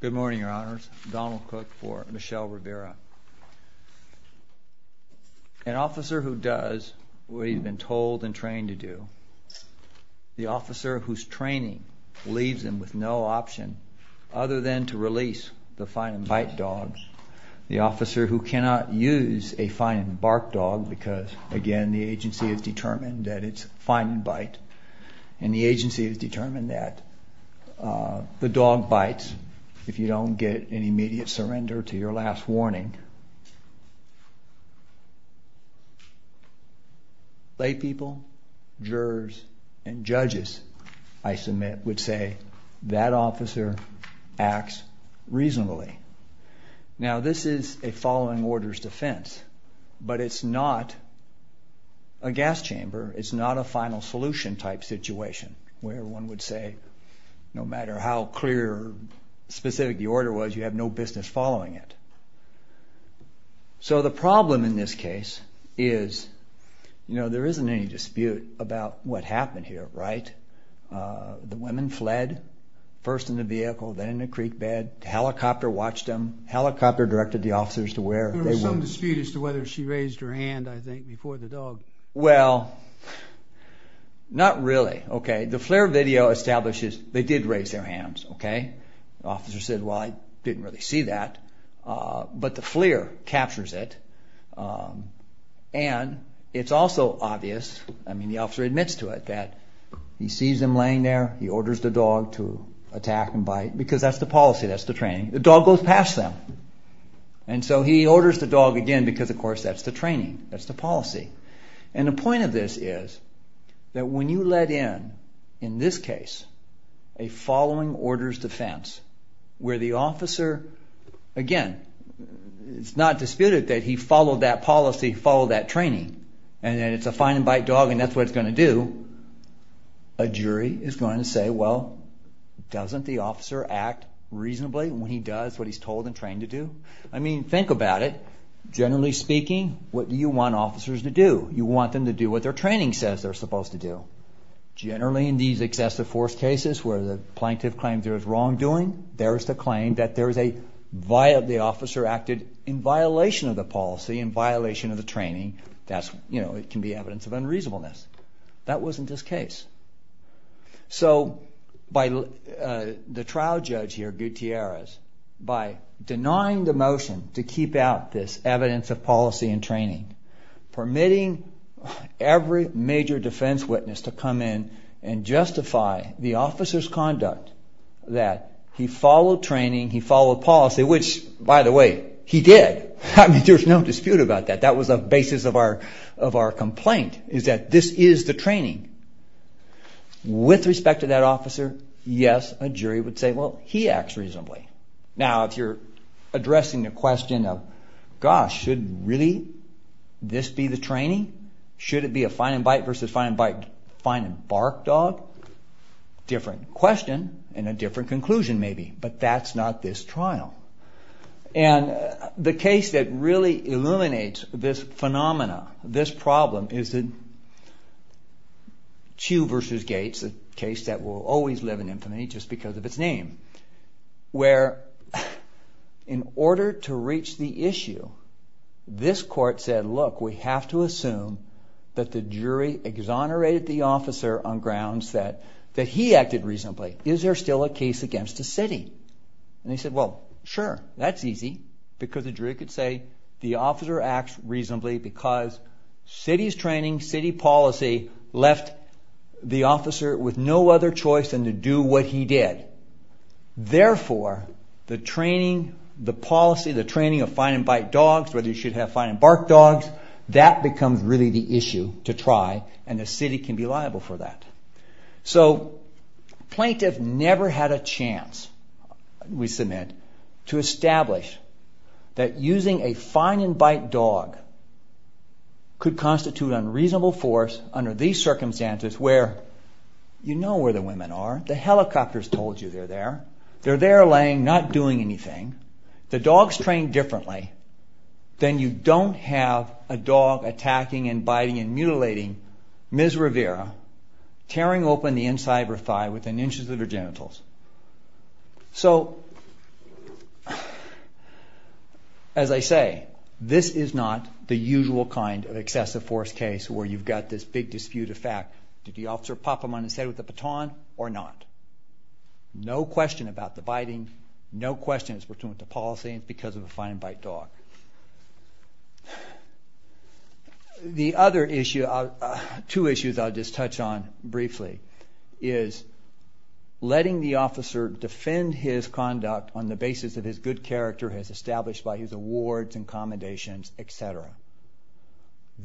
Good morning your honors, Donald Cook for Michelle Rivera. An officer who does what he's been told and trained to do, the officer whose training leaves him with no option other than to release the find-and-bite dogs, the officer who cannot use a find-and-bark dog because again the agency has determined that it's find-and-bite and the agency has determined that the dog bites if you don't get an immediate surrender to your last warning. Laypeople, jurors and judges, I submit, would say that officer acts reasonably. Now this is a following orders defense, but it's not a gas chamber, it's not a final solution type situation where one would say no matter how clear or specific the order was you have no business following it. So the problem in this case is, you know, there isn't any dispute about what happened here, right? The women fled first in the vehicle, then in the creek bed, helicopter watched them, helicopter directed the officers to where they were. There was some dispute as to whether she raised her hand, I think, before the dog. Well, not really, okay? The FLIR video establishes they did raise their hands, okay? The officer said, well, I didn't really see that, but the FLIR captures it and it's also obvious, I mean, the officer admits to it that he sees them laying there, he orders the dog to attack and bite, because that's the policy, that's the training. The dog goes past them, and so he orders the dog again because, of course, that's the training, that's the policy. And the point of this is that when you let in, in this case, a following orders defense where the officer, again, it's not disputed that he followed that policy, followed that training, and it's a find-and-bite dog and that's what it's going to do, a jury is going to say, well, doesn't the officer act reasonably when he does what he's told and trained to do? I mean, think about it. Generally speaking, what do you want officers to do? You want them to do what their training says they're supposed to do. Generally, in these excessive force cases where the plaintiff claims there's wrongdoing, there's the claim that there's a, the officer acted in violation of the policy, in violation of the training, that's, you know, it can be evidence of unreasonableness. That wasn't his case. So by the trial judge here, Gutierrez, by denying the motion to keep out this evidence of policy and training, permitting every major defense witness to come in and justify the officer's conduct that he followed training, he followed policy, which, by the way, he did. There's no more complaint, is that this is the training. With respect to that officer, yes, a jury would say, well, he acts reasonably. Now, if you're addressing the question of, gosh, should really this be the training? Should it be a find-and-bite versus find-and-bark dog? Different question and a problem is that Chiu v. Gates, a case that will always live in infamy just because of its name, where in order to reach the issue, this court said, look, we have to assume that the jury exonerated the officer on grounds that he acted reasonably. Is there still a case against the city? And they say the city's training, city policy, left the officer with no other choice than to do what he did. Therefore, the training, the policy, the training of find-and-bite dogs, whether you should have find-and-bark dogs, that becomes really the issue to try and the city can be liable for that. So plaintiff never had a chance, we submit, to establish that using a find-and-bite dog could constitute unreasonable force under these circumstances where you know where the women are, the helicopter's told you they're there, they're there laying, not doing anything, the dog's trained differently, then you don't have a So, as I say, this is not the usual kind of excessive force case where you've got this big dispute of fact, did the officer pop him on his head with a baton or not? No question about the biting, no question it's because of the policy, it's because of a find-and-bite dog. The other issue, two issues I'll just touch on briefly, is letting the officer defend his conduct on the basis of his good character as established by his awards and accommodations, etc.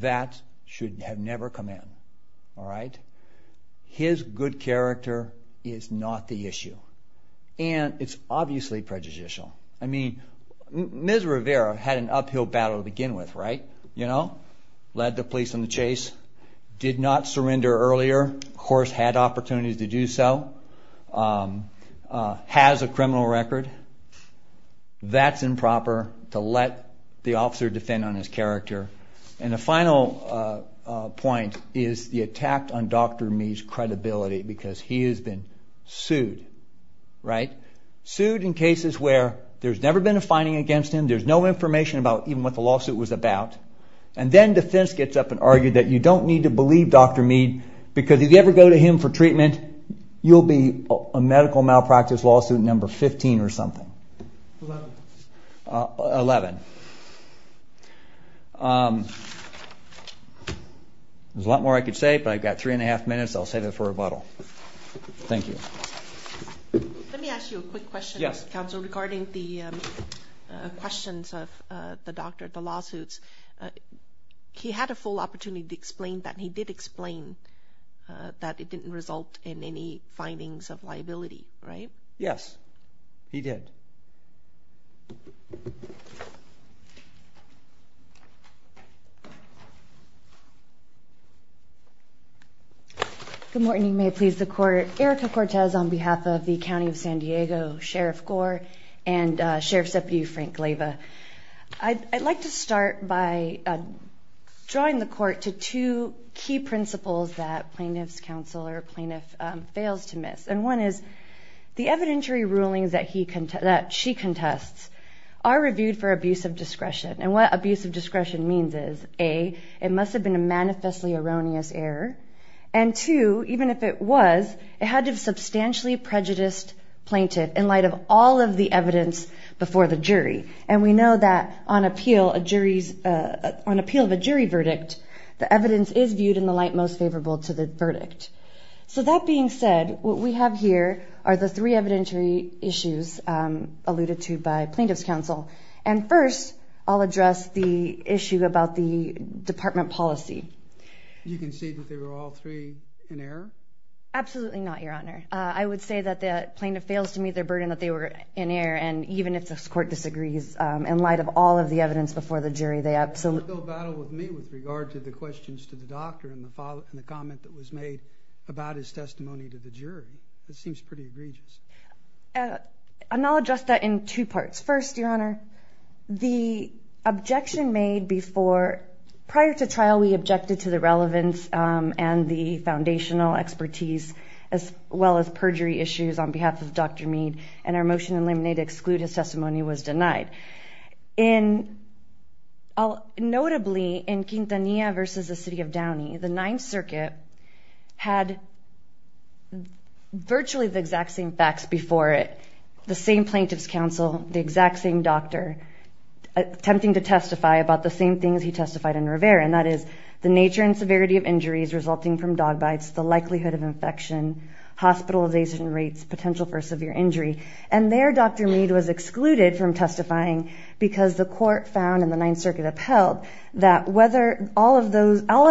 That should have never come in, alright? His good character is not the issue and it's obviously prejudicial. I mean, Ms. Rivera had an uphill battle to begin with, right? You know, led the police on the chase, did not surrender earlier, of course had opportunities to do so, has a criminal record. That's improper to let the officer defend on his character. And the final point is the attack on Dr. Meade's credibility because he has been sued, right? Sued in cases where there's never been a finding against him, there's no information about even what the lawsuit was about, and then defense gets up and argues that you don't need to believe Dr. Meade because if you ever go to him for treatment, you'll be a medical malpractice lawsuit number 15 or something. Eleven. There's a lot more I could say but I've got three and a half minutes, I'll save it for rebuttal. Thank you. Let me ask you a quick question, Counsel, regarding the questions of the doctor, the lawsuits. He had a full opportunity to explain that and he did explain that it didn't result in any findings of liability, right? Yes, he did. Good morning, may it please the court. Erica Cortez on behalf of the County of San Diego Sheriff Gore and Sheriff's Deputy Frank Glava. I'd like to start by drawing the court to two key principles that plaintiff's counsel or plaintiff fails to miss. And one is the evidentiary rulings that she contests are reviewed for abuse of discretion. And what abuse of discretion means is, A, it must have been a manifestly erroneous error. And two, even if it was, it had to have substantially prejudiced plaintiff in light of all of the evidence before the jury. And we know that on appeal of a jury verdict, the evidence is viewed in the light of the evidence before the jury, and the jury is most favorable to the verdict. So that being said, what we have here are the three evidentiary issues alluded to by plaintiff's counsel. And first, I'll address the issue about the department policy. You can see that they were all three in error? Absolutely not, Your Honor. I would say that the plaintiff fails to meet their burden that they were in error. And even if the court disagrees, in light of all of the evidence before the jury, they absolutely... It's a difficult battle with me with regard to the questions to the doctor and the comment that was made about his testimony to the jury. It seems pretty egregious. And I'll address that in two parts. First, Your Honor, the objection made before... Prior to trial, we objected to the relevance and the foundational expertise, as well as perjury issues on behalf of Dr. Mead. And our motion in Laminate to exclude his testimony was denied. Notably, in Quintanilla versus the City of Downey, the Ninth Circuit had virtually the exact same facts before it, the same plaintiff's counsel, the exact same doctor, attempting to testify about the same things he testified in Rivera. And that is the nature and severity of injuries resulting from dog bites, the likelihood of infection, hospitalization rates, potential for severe injury. And there, Dr. Mead was excluded from testifying because the court found in the Ninth Circuit upheld that whether all of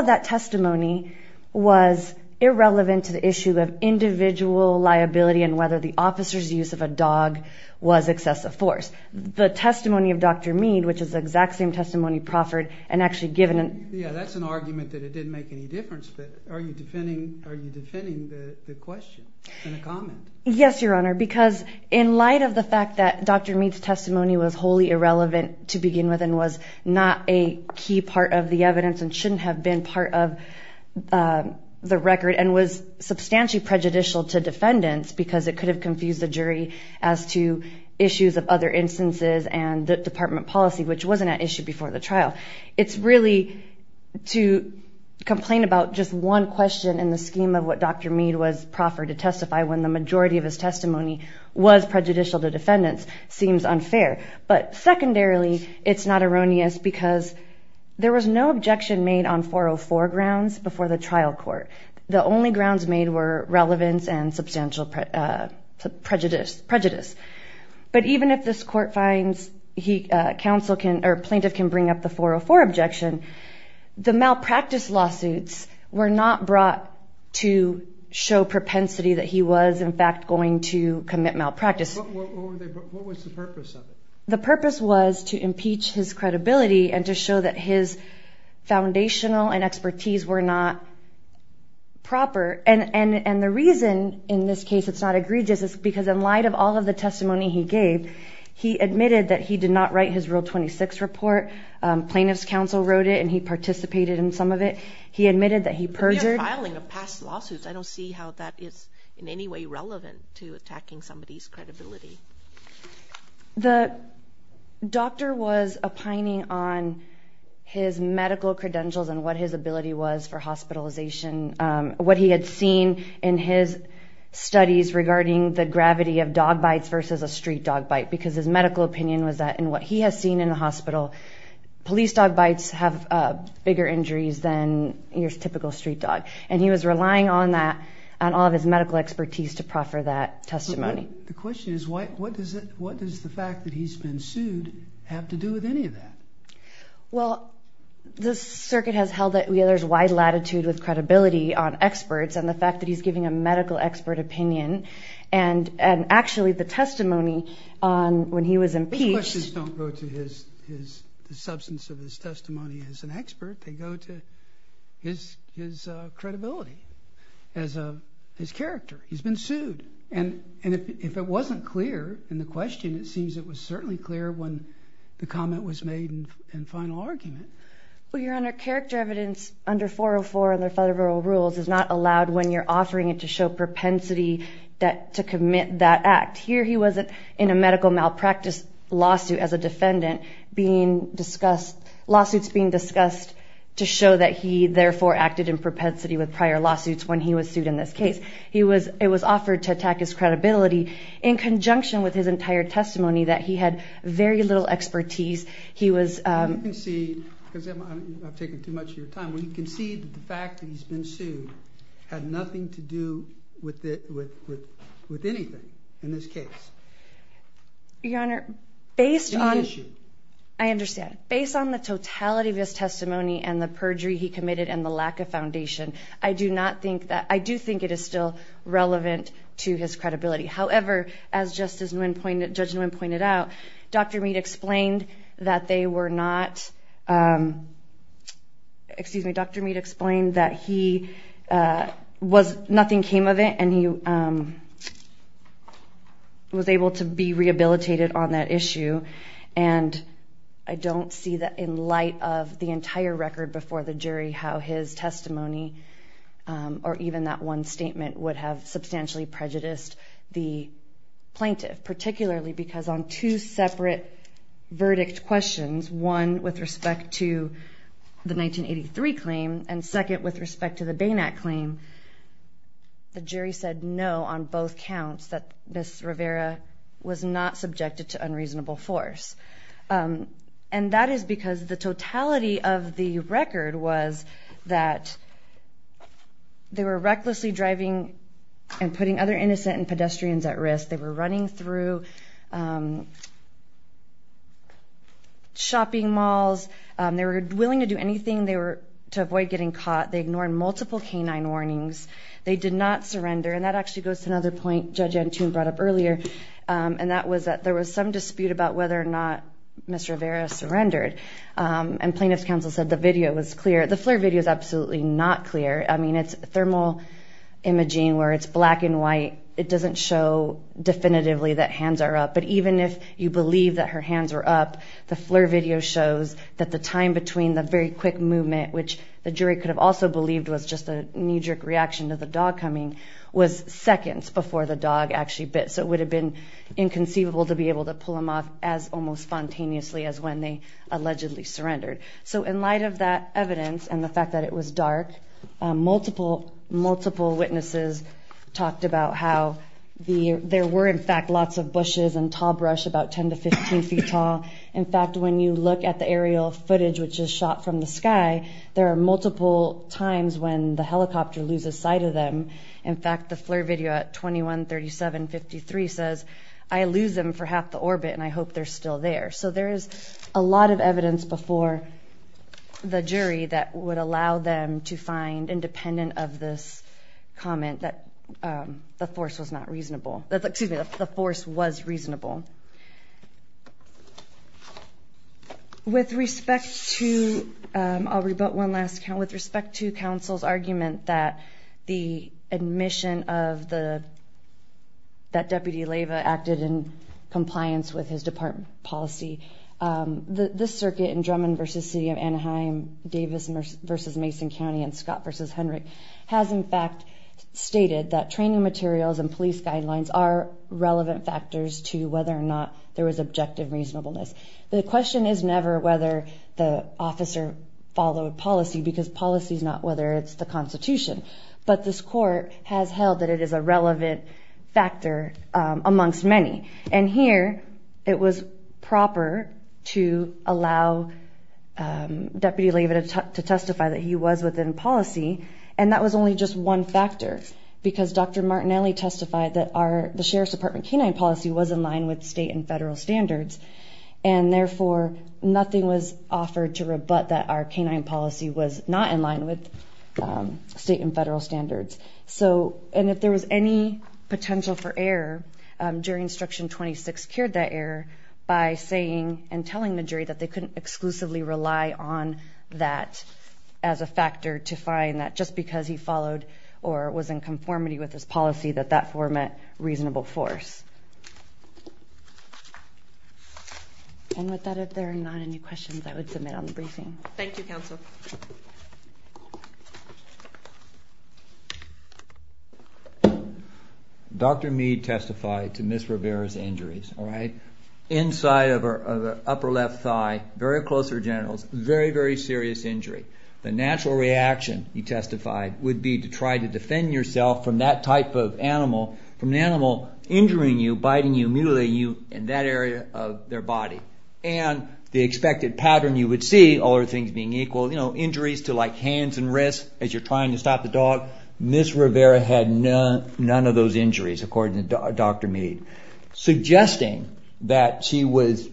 that testimony was irrelevant to the issue of individual liability and whether the officer's use of a dog was excessive force. The testimony of Dr. Mead, which is the exact same testimony proffered and actually given... Yeah, that's an argument that it didn't make any difference, but are you defending the question and the comment? Yes, Your Honor, because in light of the fact that Dr. Mead's testimony was wholly irrelevant to begin with and was not a key part of the evidence and shouldn't have been part of the record and was substantially prejudicial to defendants because it could have confused the jury as to issues of other instances and the department policy, which wasn't an issue before the trial. It's really to complain about just one question in the scheme of what Dr. Mead was proffered to testify when the majority of his testimony was prejudicial to defendants seems unfair. But secondarily, it's not erroneous because there was no objection made on 404 grounds before the trial court. The only grounds made were relevance and substantial prejudice. But even if this court finds plaintiff can bring up the 404 objection, the malpractice lawsuits were not brought to show propensity that he was in fact going to commit malpractice. What was the purpose of it? The purpose was to impeach his credibility and to show that his foundational and expertise were not proper. And the reason in this case it's not egregious is because in light of all of the testimony he gave, he admitted that he did not write his Rule 26 report. Plaintiff's counsel wrote it and he participated in some of it. He admitted that he perjured. I don't see how that is in any way relevant to attacking somebody's credibility. The doctor was opining on his medical credentials and what his ability was for hospitalization, what he had seen in his studies regarding the gravity of dog bites versus a street dog bite because his medical opinion was that in what he has seen in the hospital, police dog bites have bigger injuries than your typical street dog. And he was relying on that and all of his medical expertise to proffer that testimony. The question is what does the fact that he's been sued have to do with any of that? Well, the circuit has held that there's wide latitude with credibility on experts and the fact that he's giving a medical expert opinion and actually the testimony on when he was impeached. The questions don't go to the substance of his testimony as an expert. They go to his credibility as his character. He's been sued. And if it wasn't clear in the question, it seems it was certainly clear when the comment was made in final argument. Well, your honor, character evidence under 404 and the federal rules is not allowed when you're offering it to show propensity to commit that act. Here he wasn't in a medical malpractice lawsuit as a defendant, lawsuits being discussed to show that he therefore acted in propensity with prior lawsuits when he was sued in this case. It was offered to attack his credibility in conjunction with his entire testimony that he had very little expertise. He was you can see because I've taken too much of your time. We can see the fact that he's been sued, had nothing to do with it, with with anything in this case. Your honor, based on I understand, based on the totality of his testimony and the perjury he committed and the lack of foundation, I do not think that I do think it is still relevant to his credibility. However, as Justice Nguyen pointed, Judge Nguyen pointed out, Dr. Meade explained that they were not. Excuse me, Dr. Meade explained that he was nothing came of it and he was able to be rehabilitated on that issue. And I don't see that in light of the entire record before the jury, how his testimony or even that one statement would have substantially prejudiced the plaintiff, particularly because on two separate verdict questions. One with respect to the 1983 claim and second with respect to the Bain Act claim, the jury said no on both counts that Miss Rivera was not subjected to unreasonable force. And that is because the totality of the record was that they were recklessly driving and putting other innocent and pedestrians at risk. They were running through shopping malls. They were willing to do anything. They were to avoid getting caught. They ignored multiple canine warnings. They did not surrender. And that actually goes to another point Judge Antune brought up earlier, and that was that there was some dispute about whether or not Miss Rivera surrendered. And plaintiff's counsel said the video was clear. The FLIR video is absolutely not clear. I mean, it's thermal imaging where it's black and white. It doesn't show definitively that hands are up. But even if you believe that her hands were up, the FLIR video shows that the time between the very quick movement, which the jury could have also believed was just a knee-jerk reaction to the dog coming, was seconds before the dog actually bit. So it would have been inconceivable to be able to pull him off as almost spontaneously as when they allegedly surrendered. So in light of that evidence and the fact that it was dark, multiple, multiple witnesses talked about how there were, in fact, lots of bushes and tall brush about 10 to 15 feet tall. In fact, when you look at the aerial footage, which is shot from the sky, there are multiple times when the helicopter loses sight of them. In fact, the FLIR video at 21-37-53 says, I lose them for half the orbit, and I hope they're still there. So there is a lot of evidence before the jury that would allow them to find, independent of this comment, that the force was not reasonable. Excuse me, the force was reasonable. With respect to, I'll rebut one last, with respect to counsel's argument that the admission of the, that Deputy Leyva acted in compliance with his department policy, this circuit in Drummond v. City of Anaheim, Davis v. Mason County, and Scott v. Hendrick, has in fact stated that training materials and police guidelines are relevant factors to whether or not there was objective reasonableness. The question is never whether the officer followed policy, because policy is not whether it's the Constitution. But this court has held that it is a relevant factor amongst many. And here, it was proper to allow Deputy Leyva to testify that he was within policy. And that was only just one factor, because Dr. Martinelli testified that our, the Sheriff's Department canine policy was in line with state and federal standards. And therefore, nothing was offered to rebut that our canine policy was not in line with state and federal standards. So, and if there was any potential for error, jury instruction 26 cured that error by saying and telling the jury that they couldn't exclusively rely on that as a factor to find that just because he followed or was in conformity with his policy that that format reasonable force. And with that, if there are not any questions, I would submit on the briefing. Thank you, Counsel. Dr. Meade testified to Ms. Rivera's injuries. Inside of her upper left thigh, very close to her genitals, very, very serious injury. The natural reaction, he testified, would be to try to defend yourself from that type of animal, from an animal injuring you, biting you, mutilating you in that area of their body. And the expected pattern you would see, all other things being equal, you know, injuries to like hands and wrists as you're trying to stop the dog. Ms. Rivera had none of those injuries, according to Dr. Meade, suggesting that she was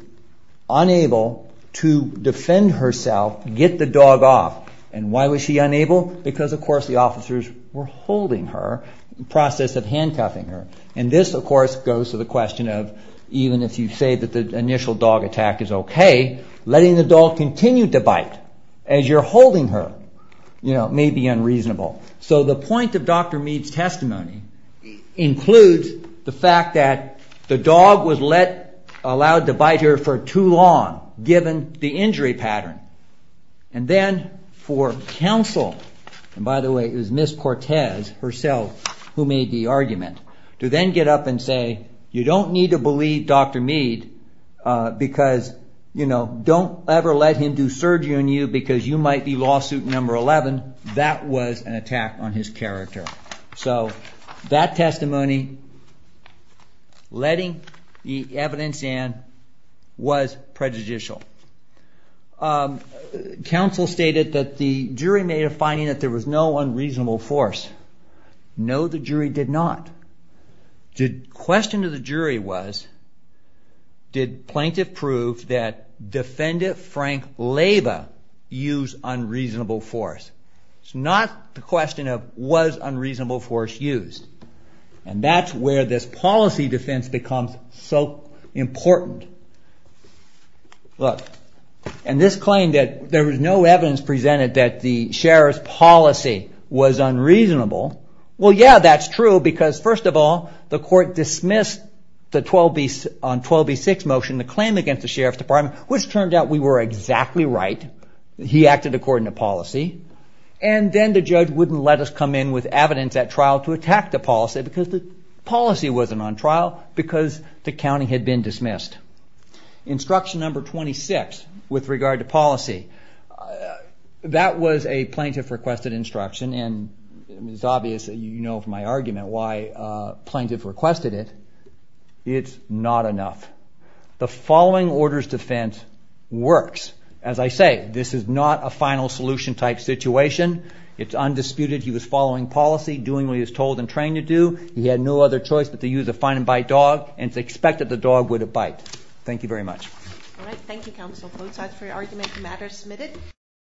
unable to defend herself, get the dog off. And why was she unable? Because, of course, the officers were holding her, in the process of handcuffing her. And this, of course, goes to the question of even if you say that the initial dog attack is okay, letting the dog continue to bite as you're holding her, you know, may be unreasonable. So the point of Dr. Meade's testimony includes the fact that the dog was allowed to bite her for too long, given the injury pattern. And then for counsel, and by the way, it was Ms. Cortez herself who made the argument, to then get up and say, you don't need to believe Dr. Meade because, you know, don't ever let him do surgery on you because you might be lawsuit number 11. That was an attack on his character. So that testimony, letting the evidence in, was prejudicial. Counsel stated that the jury made a finding that there was no unreasonable force. No, the jury did not. The question to the jury was, did plaintiff prove that Defendant Frank Leyva used unreasonable force? It's not the question of, was unreasonable force used? And that's where this policy defense becomes so important. Look, and this claim that there was no evidence presented that the sheriff's policy was unreasonable, well, yeah, that's true because, first of all, the court dismissed the 12B6 motion, the claim against the Sheriff's Department, which turned out we were exactly right. He acted according to policy. And then the judge wouldn't let us come in with evidence at trial to attack the policy because the policy wasn't on trial because the county had been dismissed. Instruction number 26 with regard to policy, that was a plaintiff-requested instruction, and it's obvious, you know, from my argument why plaintiff requested it. It's not enough. The following orders defense works. As I say, this is not a final solution type situation. It's undisputed. He was following policy, doing what he was told and trained to do. He had no other choice but to use a find-and-bite dog, and it's expected the dog would have bite. Thank you very much. All right. Thank you, Counsel Fozard, for your argument. The matter is submitted.